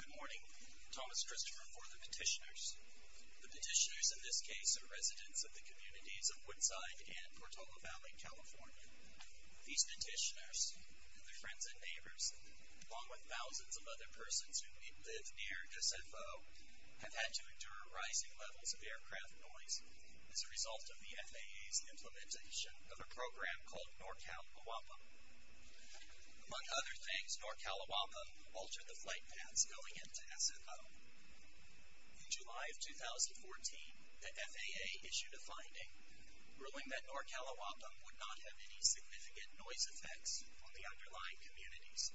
Good morning. Thomas Christopher for the petitioners. The petitioners in this case are residents of the communities of Woodside and Portola Valley, California. These petitioners, and their friends and neighbors, along with thousands of other persons who live near SFO, have had to endure rising levels of aircraft noise as a result of the FAA's implementation of a program called NORCALOAPA. Among other things, NORCALOAPA altered the flight paths going into SFO. In July of 2014, the FAA issued a finding ruling that NORCALOAPA would not have any significant noise effects on the underlying communities.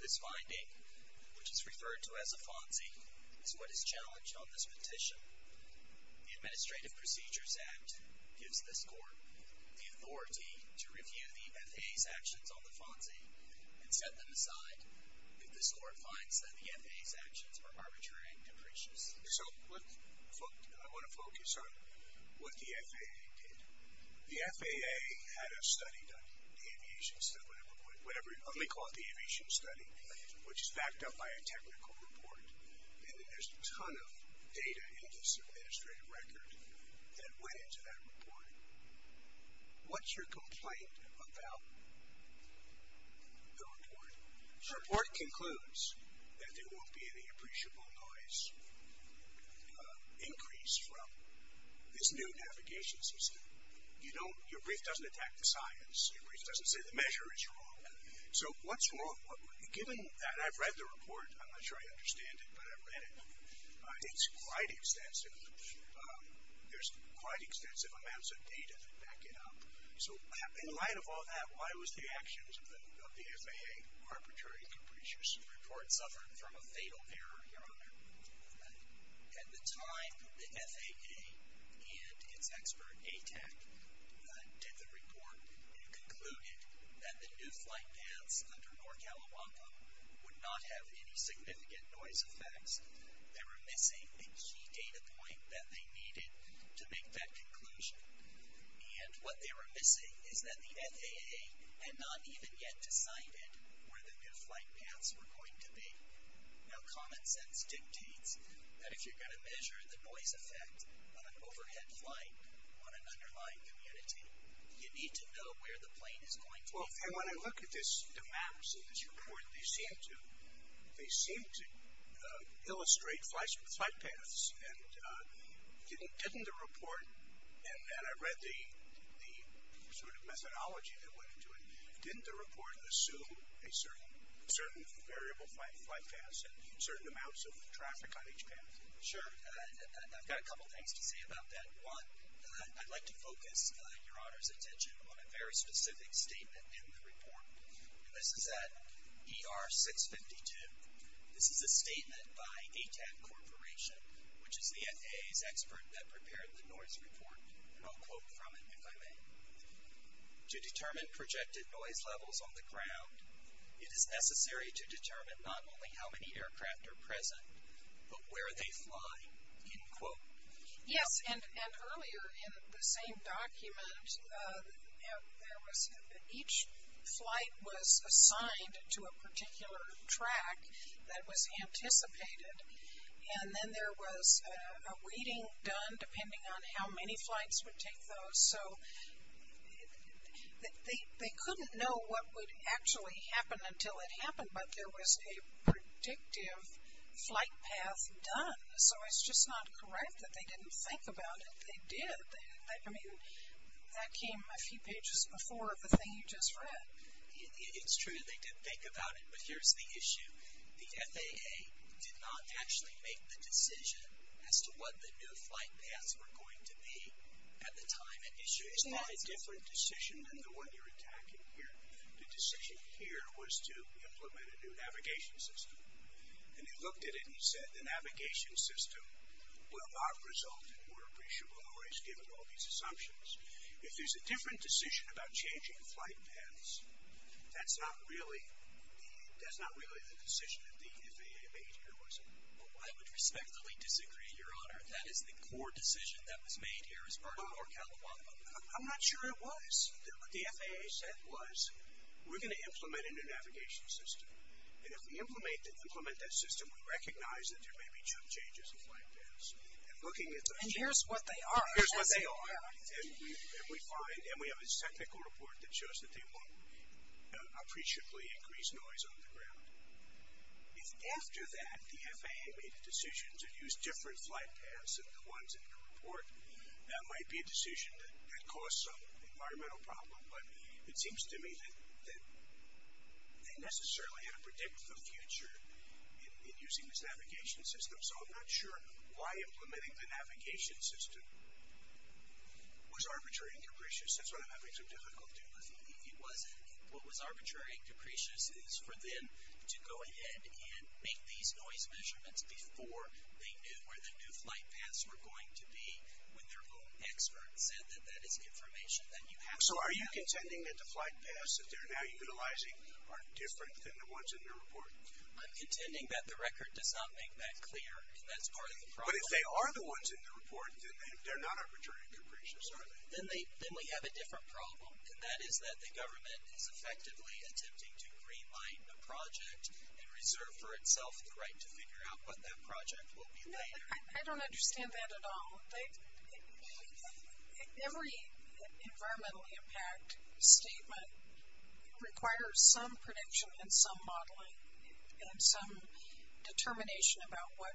This finding, which is referred to as a FONSI, is what is challenged on this petition. The Administrative Procedures Act gives this court the authority to review the FAA's actions on the FONSI and set them aside if this court finds that the FAA's actions are arbitrary and capricious. So, I want to focus on what the FAA did. The FAA had a study done, the aviation study, whatever you want to call it, the aviation study, which is backed up by a technical report. And there's a ton of data in this administrative record that went into that report. What's your complaint about the report? The report concludes that there won't be any appreciable noise increase from this new navigation system. You know, your brief doesn't attack the science. Your brief doesn't say the measure is wrong. So, what's wrong? Given that I've read the report, but I've read it, it's quite extensive. There's quite extensive amounts of data to back it up. So, in light of all that, why was the actions of the FAA arbitrary and capricious? The report suffered from a fatal error, Your Honor. At the time, the FAA and its expert ATAC did the report and concluded that the new flight paths under North California would not have any significant noise effects. They were missing a key data point that they needed to make that conclusion. And what they were missing is that the FAA had not even yet decided where the new flight paths were going to be. Now, common sense dictates that if you're going to measure the noise effect on an overhead flight on an underlying community, you need to know where the plane is going to be. Well, and when I look at this, the maps in this report, they seem to illustrate flight paths. And didn't the report, and I read the sort of methodology that went into it, didn't the report assume a certain variable flight path and certain amounts of traffic on each path? Sure. I've got a couple things to say about that. One, I'd like to focus Your Honor's attention on a very specific statement in the report, and this is at ER 652. This is a statement by ATAC Corporation, which is the FAA's expert that prepared the noise report, and I'll quote from it if I may. To determine projected noise levels on the ground, it is necessary to determine not only how many aircraft are present, but where they fly, end quote. Yes, and earlier in the same document, each flight was assigned to a particular track that was anticipated, and then there was a reading done depending on how many flights would take those, so they couldn't know what would actually happen until it happened, but there was a predictive flight path done, so it's just not correct that they didn't think about it. They did. I mean, that came a few pages before the thing you just read. It's true, they did think about it, but here's the issue. The FAA did not actually make the decision as to what the new flight paths were going to be at the time. It's not a different decision than the one you're attacking here. The decision here was to implement a new navigation system, and they looked at it and said the navigation system will not result in more appreciable noise given all these assumptions. If there's a different decision about changing flight paths, that's not really the decision that the FAA made here, was it? I would respectfully disagree, Your Honor. That is the core decision that was made here as part of our I'm not sure it was. What the FAA said was we're going to implement a new navigation system, and if we implement that system, we recognize that there may be chip changes in flight paths. And here's what they are. Here's what they are, and we have a technical report that shows that they won't appreciably increase noise on the ground. If after that the FAA made a decision to use different flight paths than the ones in the report, that might be a decision that caused some environmental problem, but it seems to me that they necessarily had to predict the future in using this navigation system. So I'm not sure why implementing the navigation system was arbitrary and capricious. That's what I'm having some difficulty with. It wasn't. What was arbitrary and capricious is for them to go ahead and make these noise measurements before they knew where the new flight paths were going to be when their own experts said that that is information that you have to have. So are you contending that the flight paths that they're now utilizing are different than the ones in the report? I'm contending that the record does not make that clear, and that's part of the problem. But if they are the ones in the report, then they're not arbitrary and capricious, are they? Then we have a different problem, and that is that the government is effectively attempting to green light the project and reserve for itself the right to figure out what that project will be later. I don't understand that at all. Every environmental impact statement requires some prediction and some modeling and some determination about what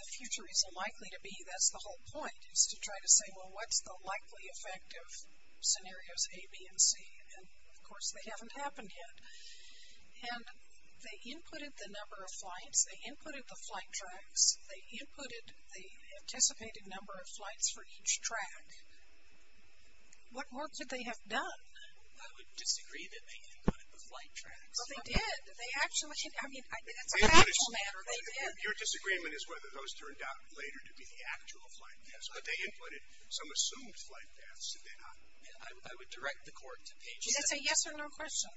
the future is likely to be. That's the whole point is to try to say, well, what's the likely effect of scenarios A, B, and C? And, of course, they haven't happened yet. And they inputted the number of flights. They inputted the flight tracks. They inputted the anticipated number of flights for each track. What more could they have done? I would disagree that they inputted the flight tracks. Well, they did. They actually did. I mean, that's a factual matter. They did. Your disagreement is whether those turned out later to be the actual flight paths. But they inputted some assumed flight paths, did they not? I would direct the court to page 17. That's a yes or no question.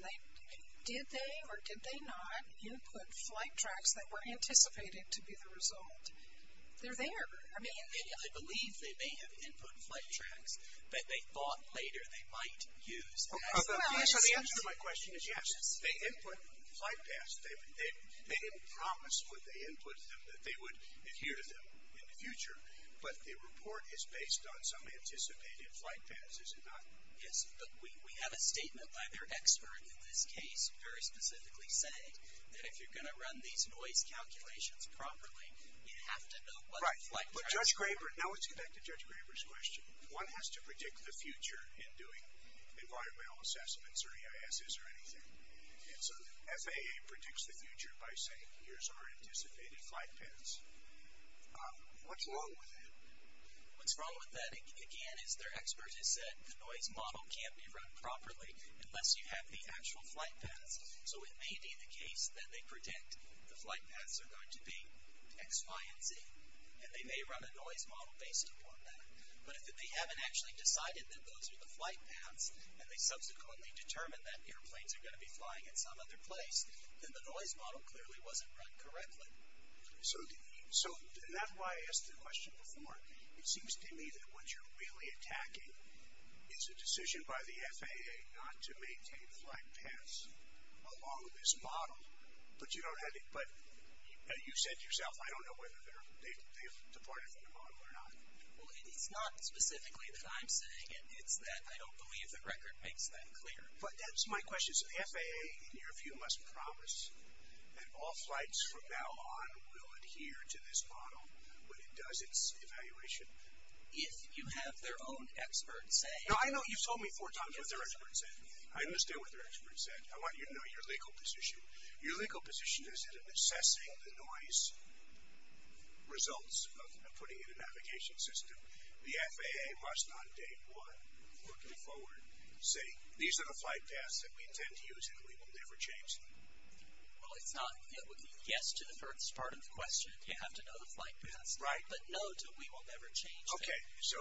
Did they or did they not input flight tracks that were anticipated to be the result? They're there. I mean, I believe they may have inputted flight tracks, but they thought later they might use them. So the answer to my question is yes. They input flight paths. They didn't promise when they inputted them that they would adhere to them in the future. But the report is based on some anticipated flight paths, is it not? Yes. But we have a statement by their expert in this case very specifically saying that if you're going to run these noise calculations properly, you have to know what the flight tracks are. Right. But Judge Graber, now let's get back to Judge Graber's question. One has to predict the future in doing environmental assessments or EISs or anything. And so the FAA predicts the future by saying here's our anticipated flight paths. What's wrong with that? What's wrong with that, again, is their expert has said the noise model can't be run properly unless you have the actual flight paths. So it may be the case that they predict the flight paths are going to be X, Y, and Z. And they may run a noise model based upon that. But if they haven't actually decided that those are the flight paths and they subsequently determine that airplanes are going to be flying at some other place, then the noise model clearly wasn't run correctly. So that's why I asked the question before. It seems to me that what you're really attacking is a decision by the FAA not to maintain flight paths along this model. But you said to yourself, I don't know whether they've departed from the model or not. Well, it's not specifically that I'm saying it. It's that I don't believe the record makes that clear. But that's my question. Does the FAA, in your view, must promise that all flights from now on will adhere to this model when it does its evaluation? If you have their own expert say. Now, I know you've told me four times what their expert said. I understand what their expert said. I want you to know your legal position. Your legal position is in assessing the noise results of putting in a navigation system. The FAA must not date what, looking forward, say, these are the flight paths that we intend to use and we will never change them. Well, it's not yes to the first part of the question. You have to know the flight paths. Right. But no to we will never change them. Okay. So.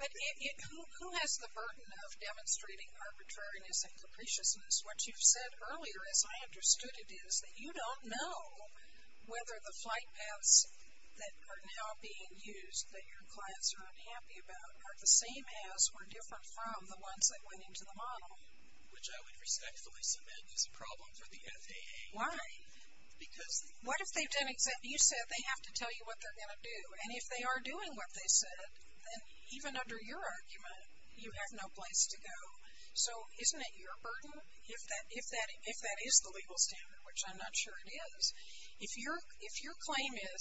But who has the burden of demonstrating arbitrariness and capriciousness? What you've said earlier, as I understood it, is that you don't know whether the flight paths that are now being used that your clients are unhappy about are the same as or different from the ones that went into the model. Which I would respectfully submit is a problem for the FAA. Why? Because. What if they've done exactly. You said they have to tell you what they're going to do. And if they are doing what they said, then even under your argument, you have no place to go. So isn't it your burden, if that is the legal standard, which I'm not sure it is, if your claim is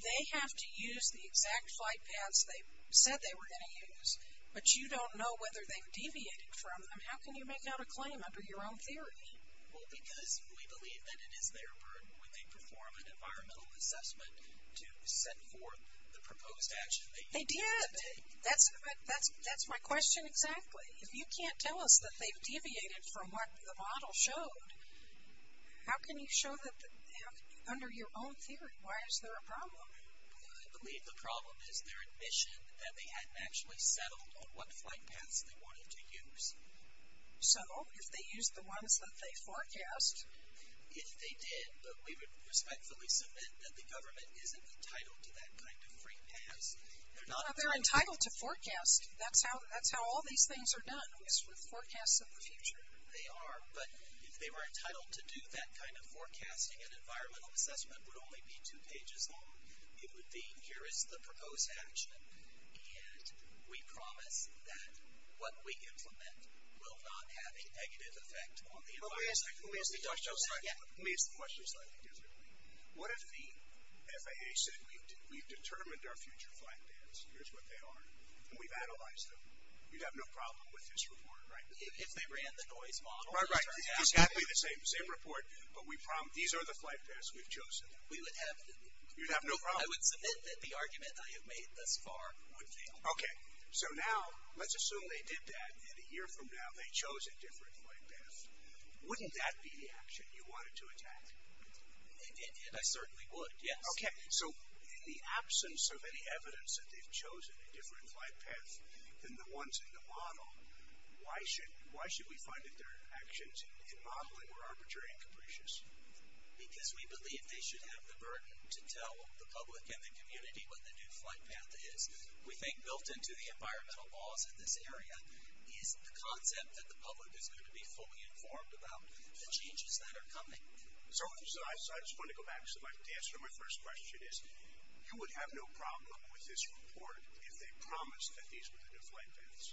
they have to use the exact flight paths they said they were going to use, but you don't know whether they've deviated from them, how can you make out a claim under your own theory? Well, because we believe that it is their burden when they perform an environmental assessment to set forth the proposed action. They did. That's my question exactly. If you can't tell us that they've deviated from what the model showed, how can you show that under your own theory? Why is there a problem? I believe the problem is their admission that they hadn't actually settled on what flight paths they wanted to use. So if they used the ones that they forecast. If they did, but we would respectfully submit that the government isn't entitled to that kind of free pass. They're entitled to forecast. That's how all these things are done is with forecasts of the future. They are, but if they were entitled to do that kind of forecasting, an environmental assessment would only be two pages long. It would be, here is the proposed action, and we promise that what we implement will not have a negative effect on the environment. Let me ask the question slightly differently. What if the FAA said we've determined our future flight paths, here's what they are, and we've analyzed them, you'd have no problem with this report, right? If they ran the noise model. Right, right. It's got to be the same report, but these are the flight paths we've chosen. You'd have no problem. I would submit that the argument I have made thus far would fail. Okay. So now, let's assume they did that, and a year from now they chose a different flight path. Wouldn't that be the action you wanted to attack? I certainly would, yes. Okay, so in the absence of any evidence that they've chosen a different flight path than the ones in the model, why should we find that their actions in modeling were arbitrary and capricious? Because we believe they should have the burden to tell the public and the community what the new flight path is. We think built into the environmental laws in this area is the concept that the public is going to be fully informed about the changes that are coming. So I just want to go back to the answer to my first question is, you would have no problem with this report if they promised that these were the new flight paths.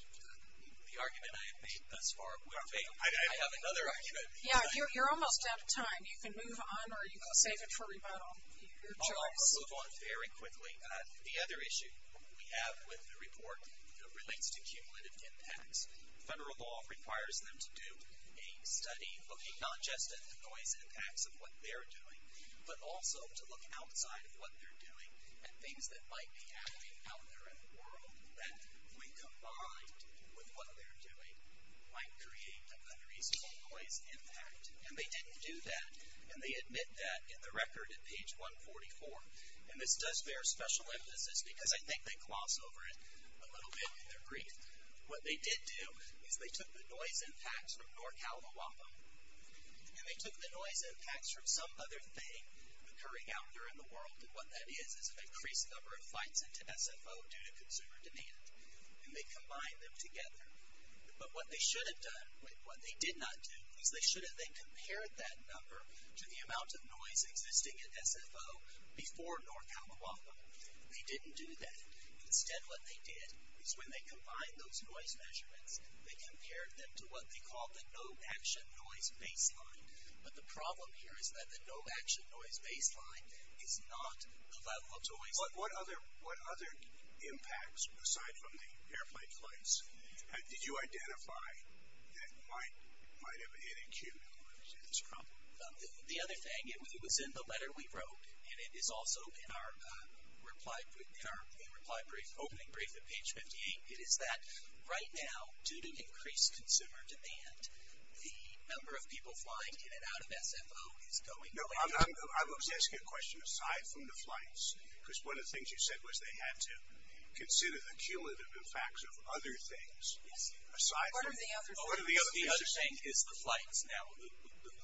The argument I have made thus far would fail. I have another argument. Yeah, you're almost out of time. You can move on or you can save it for rebuttal. I'll move on very quickly. The other issue we have with the report relates to cumulative impacts. Federal law requires them to do a study looking not just at the noise impacts of what they're doing, but also to look outside of what they're doing at things that might be happening out there in the world that, when combined with what they're doing, might create an unreasonable noise impact. And they didn't do that, and they admit that in the record at page 144. And this does bear special emphasis because I think they gloss over it a little bit in their brief. What they did do is they took the noise impacts from North Kalimawapam, and they took the noise impacts from some other thing occurring out there in the world, and what that is is an increased number of flights into SFO due to consumer demand, and they combined them together. But what they should have done, what they did not do, is they should have then compared that number to the amount of noise existing at SFO before North Kalimawapam. They didn't do that. Instead, what they did is when they combined those noise measurements, they compared them to what they call the no action noise baseline. But the problem here is that the no action noise baseline is not the level of noise. What other impacts, aside from the airplane flights, did you identify that might have hit a cue in order to see this problem? The other thing, it was in the letter we wrote, and it is also in our reply brief, opening brief at page 58. It is that right now, due to increased consumer demand, the number of people flying in and out of SFO is going away. No, I was asking a question aside from the flights, because one of the things you said was they had to consider the cumulative impacts of other things. Yes. What are the other things? The other thing is the flights now.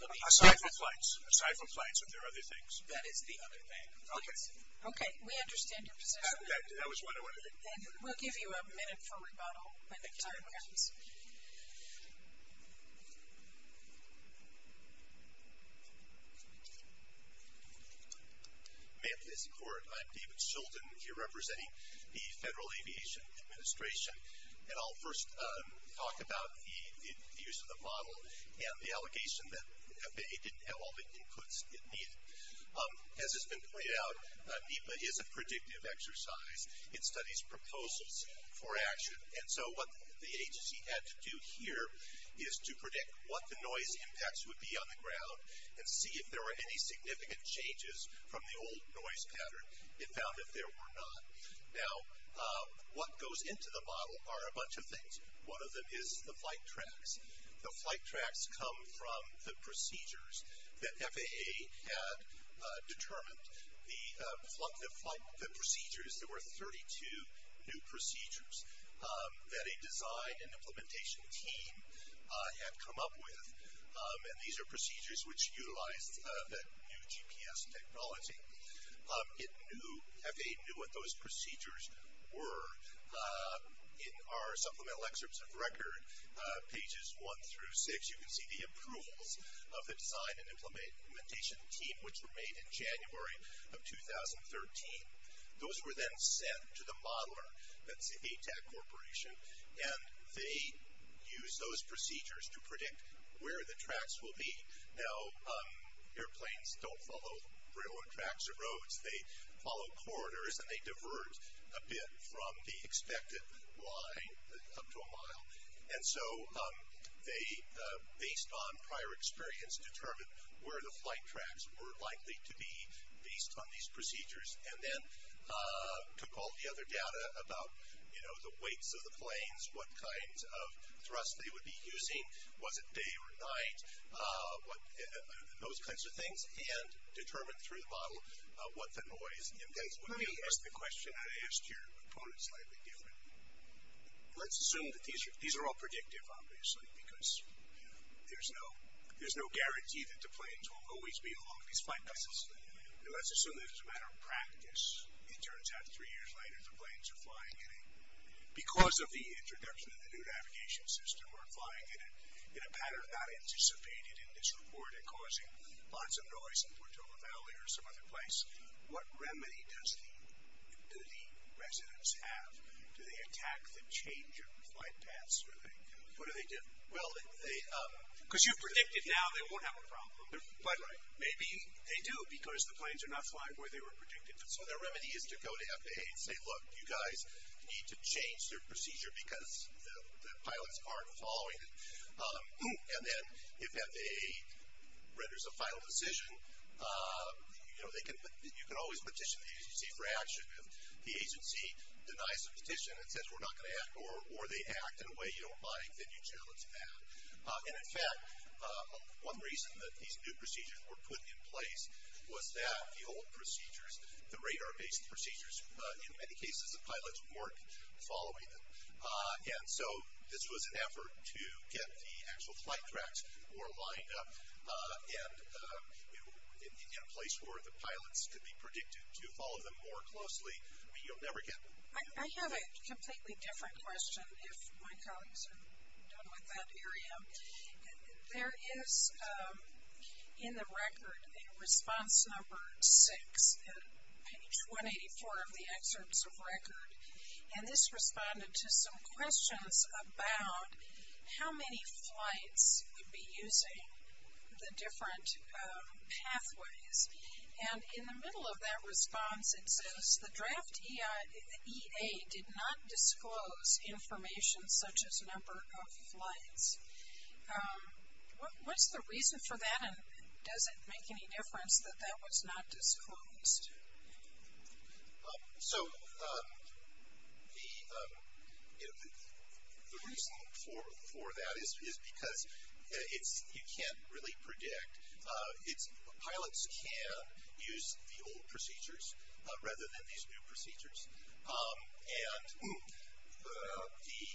Aside from flights. Aside from flights, are there other things? That is the other thing. Okay. Okay. We understand your position. That was what I wanted to get to. Then we'll give you a minute for rebuttal when the time comes. Ma'am, please record. I'm David Sheldon. You're representing the Federal Aviation Administration. And I'll first talk about the use of the model and the allegation that they didn't have all the inputs it needed. As has been pointed out, NEPA is a predictive exercise. It studies proposals for action. And so what the agency had to do here is to predict what the noise impacts would be on the ground and see if there were any significant changes from the old noise pattern. It found that there were not. Now, what goes into the model are a bunch of things. One of them is the flight tracks. The flight tracks come from the procedures that FAA had determined. The procedures, there were 32 new procedures that a design and implementation team had come up with. And these are procedures which utilize the new GPS technology. FAA knew what those procedures were. In our supplemental excerpts of record, pages one through six, you can see the approvals of the design and implementation team, which were made in January of 2013. Those were then sent to the modeler, that's the ATAC Corporation, and they used those procedures to predict where the tracks will be. Now, airplanes don't follow railroad tracks or roads. They follow corridors and they divert a bit from the expected line up to a mile. And so they, based on prior experience, determined where the flight tracks were likely to be based on these procedures and then took all the other data about, you know, the weights of the planes, what kinds of thrust they would be using, was it day or night, those kinds of things, and determined through the model what the noise index would be. Let me ask the question I asked your opponent slightly differently. Let's assume that these are all predictive, obviously, because there's no guarantee that the planes will always be along these flight paths. And let's assume that as a matter of practice, it turns out three years later the planes are flying in a, because of the introduction of the new navigation system, are flying in a pattern not anticipated in this report and causing lots of noise in Portola Valley or some other place. What remedy does the residents have? Do they attack the change of flight paths? What do they do? Well, they... Because you predicted now they won't have a problem. But maybe they do because the planes are not flying where they were predicted. So the remedy is to go to FAA and say, look, you guys need to change their procedure because the pilots aren't following it. And then if FAA renders a final decision, you know, you can always petition the agency for action. If the agency denies the petition and says we're not going to act or they act in a way you don't like, then you challenge that. And in fact, one reason that these new procedures were put in place was that the old procedures, the radar-based procedures, in many cases the pilots weren't following them. And so this was an effort to get the actual flight tracks more lined up and in a place where the pilots could be predicted to follow them more closely. You'll never get... I have a completely different question if my colleagues are done with that area. There is in the record a response number six, page 184 of the excerpts of record. And this responded to some questions about how many flights would be using the different pathways. And in the middle of that response it says, the draft EA did not disclose information such as number of flights. What's the reason for that and does it make any difference that that was not disclosed? So the reason for that is because you can't really predict. Pilots can use the old procedures rather than these new procedures. And the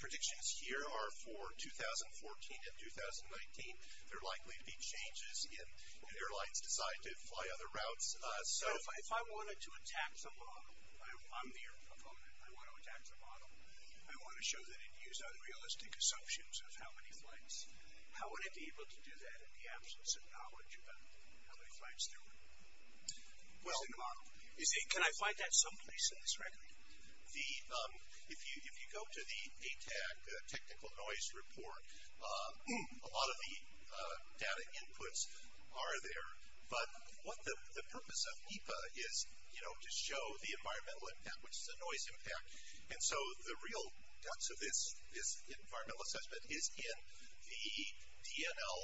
predictions here are for 2014 and 2019. There are likely to be changes if airlines decide to fly other routes. So if I wanted to attack the model, I'm the air proponent, I want to attack the model, I want to show that it used unrealistic assumptions of how many flights, how would it be able to do that in the absence of knowledge about how many flights there were? Can I find that someplace in this record? If you go to the ATAC technical noise report, a lot of the data inputs are there. But what the purpose of NEPA is, you know, to show the environmental impact, which is the noise impact. And so the real guts of this environmental assessment is in the DNL.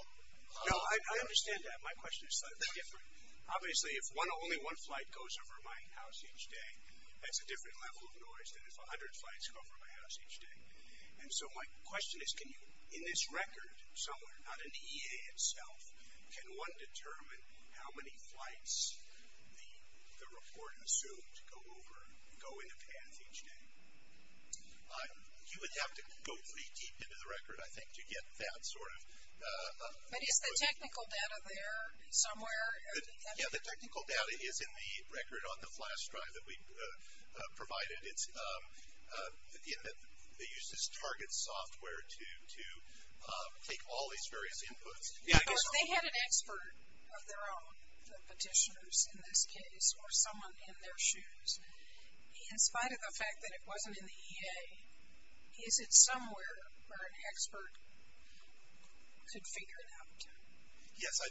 No, I understand that. My question is slightly different. Obviously, if only one flight goes over my house each day, that's a different level of noise than if 100 flights go over my house each day. And so my question is, can you, in this record somewhere, not in the EA itself, can one determine how many flights the report assumed go over, go in a path each day? You would have to go pretty deep into the record, I think, to get that sort of. But is the technical data there somewhere? Yeah, the technical data is in the record on the flash drive that we provided. They use this target software to take all these various inputs. They had an expert of their own, the petitioners in this case, or someone in their shoes. In spite of the fact that it wasn't in the EA, is it somewhere where an expert could figure it out? Yes, I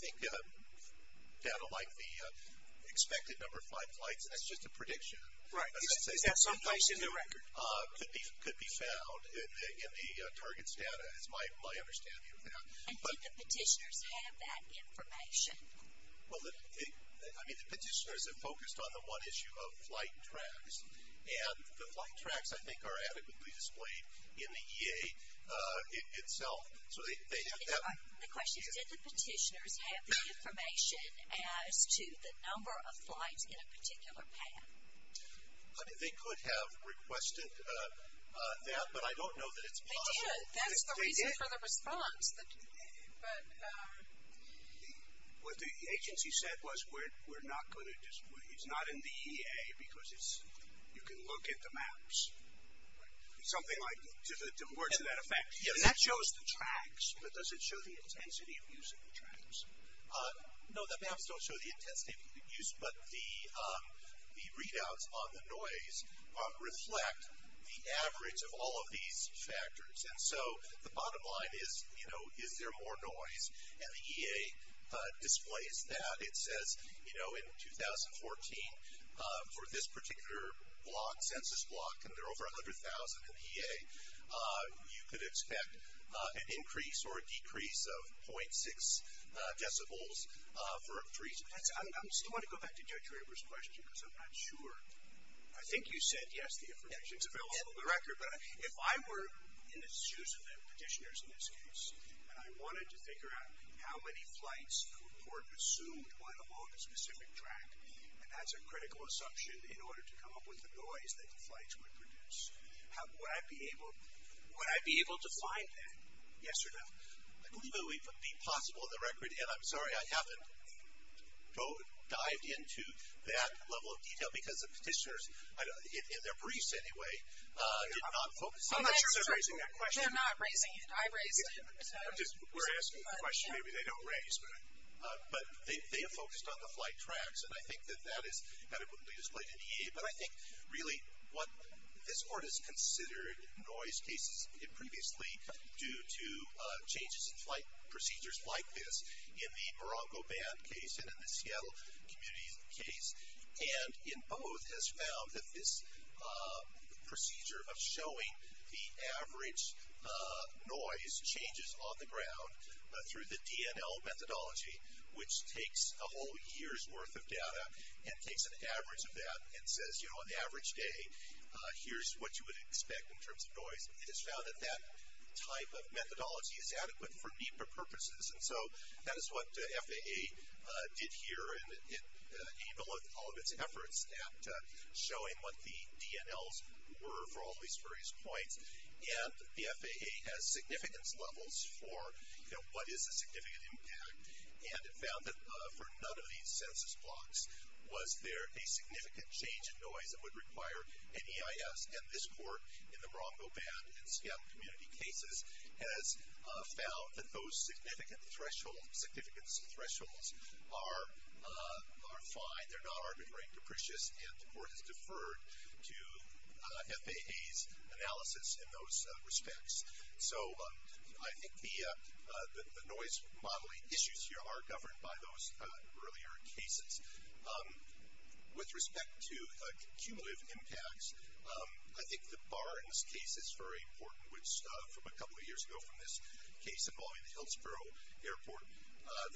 think data like the expected number of flights, and that's just a prediction. Right, is that someplace in the record? Could be found in the target's data, is my understanding of that. And did the petitioners have that information? Well, I mean, the petitioners have focused on the one issue of flight tracks. And the flight tracks, I think, are adequately displayed in the EA itself. The question is, did the petitioners have the information as to the number of flights in a particular path? They could have requested that, but I don't know that it's possible. They did. That's the reason for the response. What the agency said was, it's not in the EA because you can look at the maps. Something like, to that effect. And that shows the tracks, but does it show the intensity of using the tracks? No, the maps don't show the intensity of use, but the readouts on the noise reflect the average of all of these factors. And so, the bottom line is, you know, is there more noise? And the EA displays that. It says, you know, in 2014, for this particular block, census block, and there are over 100,000 in the EA, you could expect an increase or a decrease of .6 decibels for increase. I still want to go back to Joe Traber's question, because I'm not sure. I think you said, yes, the information is available on the record. But if I were in the shoes of the petitioners in this case, and I wanted to figure out how many flights were consumed on a specific track, and that's a critical assumption in order to come up with the noise that the flights would produce, would I be able to find that? Yes or no? I believe it would be possible on the record. And I'm sorry, I haven't dived into that level of detail, because the petitioners, in their briefs anyway, did not focus. I'm not sure they're raising that question. They're not raising it. I raised it. We're asking the question. Maybe they don't raise it. But they have focused on the flight tracks. And I think that that is adequately displayed in the EA. But I think really what this court has considered noise cases previously due to changes in flight procedures like this, in the Morocco Band case and in the Seattle community case, and in both has found that this procedure of showing the average noise changes on the ground through the DNL methodology, which takes a whole year's worth of data and takes an average of that and says, you know, on average day, here's what you would expect in terms of noise. It has found that that type of methodology is adequate for NEPA purposes. And so that is what FAA did here, and it aimed all of its efforts at showing what the DNLs were for all these various points. And the FAA has significance levels for, you know, what is the significant impact, and it found that for none of these census blocks was there a significant change in noise that would require an EIS. And this court in the Morocco Band and Seattle community cases has found that those significant thresholds, significance thresholds are fine. They're not arbitrary and capricious, and the court has deferred to FAA's analysis in those respects. So I think the noise modeling issues here are governed by those earlier cases. With respect to cumulative impacts, I think the Barnes case is very important, which from a couple of years ago from this case involving the Hillsborough Airport,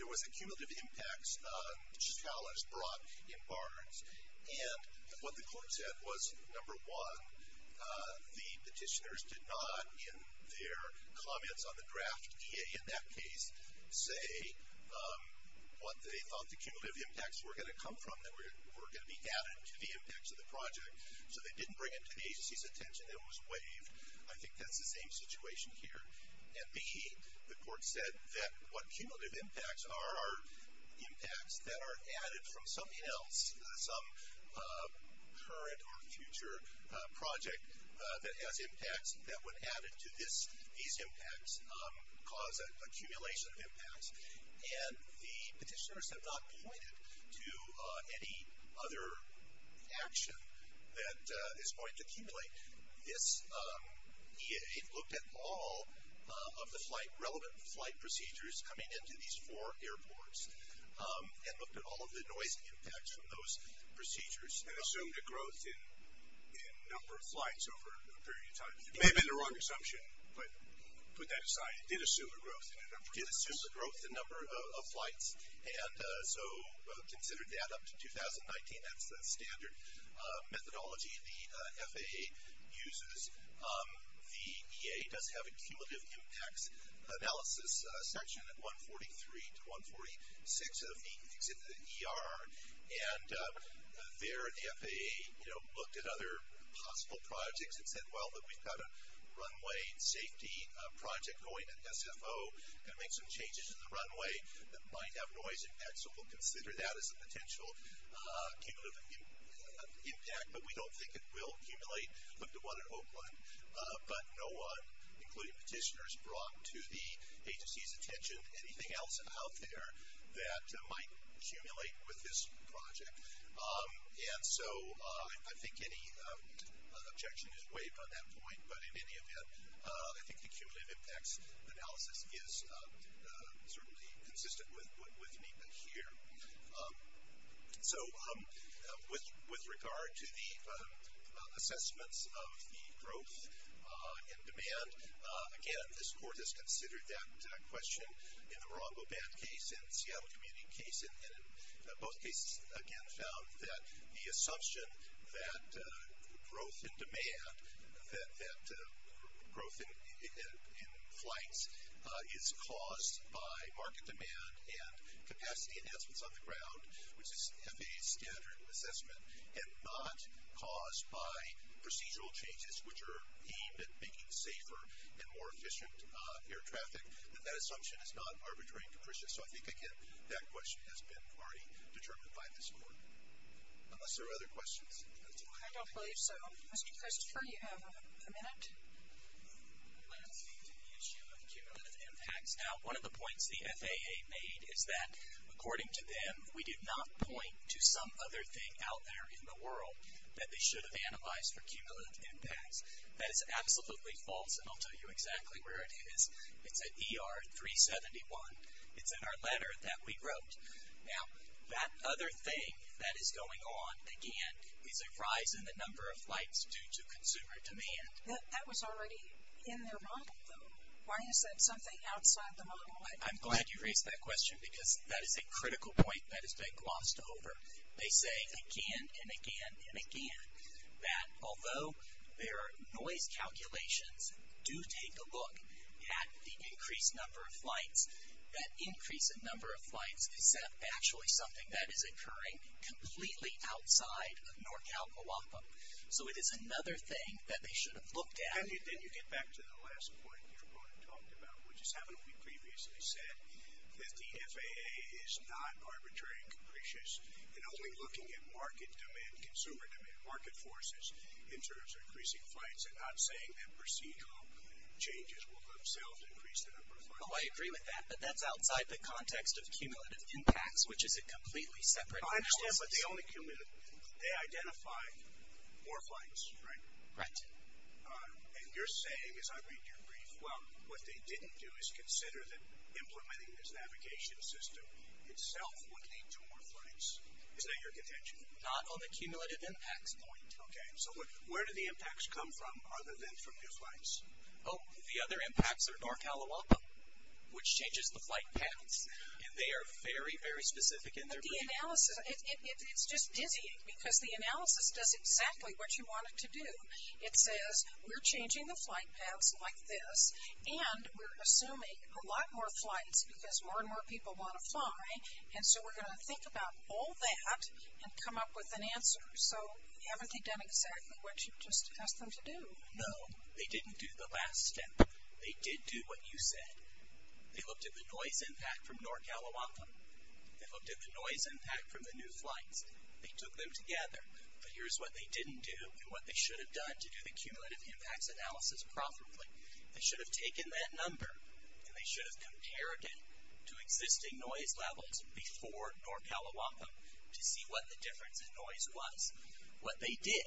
there was a cumulative impacts challenge brought in Barnes. And what the court said was, number one, the petitioners did not, in their comments on the draft DA in that case, say what they thought the cumulative impacts were going to come from, that were going to be added to the impacts of the project, so they didn't bring it to the agency's attention and it was waived. I think that's the same situation here. And, B, the court said that what cumulative impacts are, are impacts that are added from something else, some current or future project that has impacts, that when added to these impacts cause an accumulation of impacts. And the petitioners have not pointed to any other action that is going to accumulate. This EA looked at all of the flight, relevant flight procedures coming into these four airports and looked at all of the noise impacts from those procedures. And assumed a growth in number of flights over a period of time. It may have been a wrong assumption, but put that aside. It did assume a growth in a number of flights. It did assume a growth in number of flights. And so considered that up to 2019, that's the standard methodology the FAA uses. The EA does have a cumulative impacts analysis section at 143 to 146 of the ER. And there the FAA, you know, looked at other possible projects and said, well, we've got a runway safety project going at SFO, going to make some changes to the runway that might have noise impacts. So we'll consider that as a potential cumulative impact. But we don't think it will accumulate. Looked at one at Oakland. But no one, including petitioners, brought to the agency's attention anything else out there that might accumulate with this project. And so I think any objection is waived on that point. But in any event, I think the cumulative impacts analysis is certainly consistent with NEPA here. So with regard to the assessments of the growth in demand, again, this court has considered that question in the Morongo Band case and Seattle Community case, and in both cases, again, found that the assumption that growth in demand, that growth in flights is caused by market demand and capacity enhancements on the ground, which is FAA's standard assessment, and not caused by procedural changes, which are aimed at making safer and more efficient air traffic, that that assumption is not arbitrary and capricious. So I think, again, that question has been already determined by this court. Unless there are other questions. I don't believe so. Mr. Christopher, you have a minute. Let's speak to the issue of cumulative impacts. Now, one of the points the FAA made is that, according to them, we did not point to some other thing out there in the world that they should have analyzed for cumulative impacts. That is absolutely false, and I'll tell you exactly where it is. It's at ER 371. It's in our letter that we wrote. Now, that other thing that is going on, again, is a rise in the number of flights due to consumer demand. That was already in their model, though. Why is that something outside the model? I'm glad you raised that question because that is a critical point that has been glossed over. They say again and again and again that, although their noise calculations do take a look at the increased number of flights, that increase in number of flights is actually something that is occurring completely outside of NorCal, Moapa. So it is another thing that they should have looked at. Can you get back to the last point that you talked about, which is having previously said that the FAA is not arbitrary and capricious and only looking at market demand, consumer demand, market forces in terms of increasing flights and not saying that procedural changes will themselves increase the number of flights? Oh, I agree with that, but that's outside the context of cumulative impacts, which is a completely separate analysis. I understand, but they only identified more flights, right? Right. And you're saying, as I read your brief, well, what they didn't do is consider that implementing this navigation system itself would lead to more flights. Is that your contention? Not on the cumulative impacts point. Okay. So where do the impacts come from other than from new flights? Oh, the other impacts are NorCal, Moapa, which changes the flight paths, and they are very, very specific in their brief. But the analysis, it's just dizzying because the analysis does exactly what you want it to do. It says, we're changing the flight paths like this, and we're assuming a lot more flights because more and more people want to fly, and so we're going to think about all that and come up with an answer. So haven't they done exactly what you just asked them to do? No, they didn't do the last step. They did do what you said. They looked at the noise impact from NorCal, Moapa. They looked at the noise impact from the new flights. They took them together, but here's what they didn't do and what they should have done to do the cumulative impacts analysis properly. They should have taken that number, and they should have compared it to existing noise levels before NorCal, Moapa to see what the difference in noise was. What they did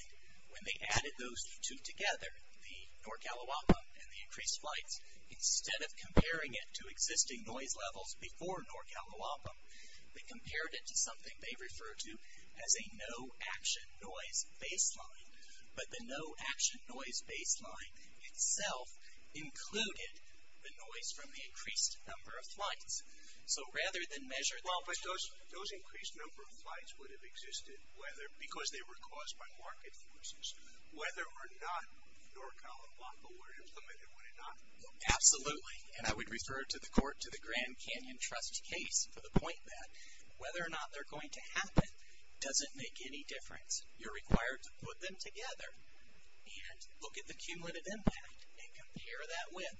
when they added those two together, the NorCal, Moapa, and the increased flights, instead of comparing it to existing noise levels before NorCal, Moapa, they compared it to something they refer to as a no-action noise baseline, but the no-action noise baseline itself included the noise from the increased number of flights. So rather than measure... But those increased number of flights would have existed because they were caused by market forces. Whether or not NorCal, Moapa were implemented, would it not? Absolutely, and I would refer to the Grand Canyon Trust case for the point that whether or not they're going to happen doesn't make any difference. You're required to put them together and look at the cumulative impact and compare that with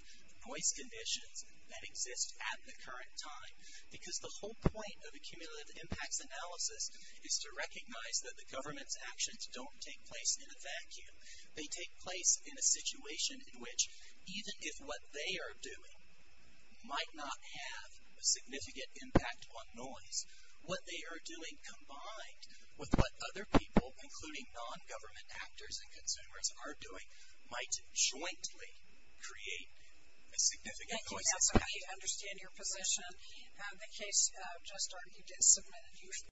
noise conditions that exist at the current time because the whole point of a cumulative impacts analysis is to recognize that the government's actions don't take place in a vacuum. They take place in a situation in which even if what they are doing might not have a significant impact on noise, what they are doing combined with what other people, including non-government actors and consumers, are doing might jointly create a significant noise impact. I understand your position. The case just argued is submitted.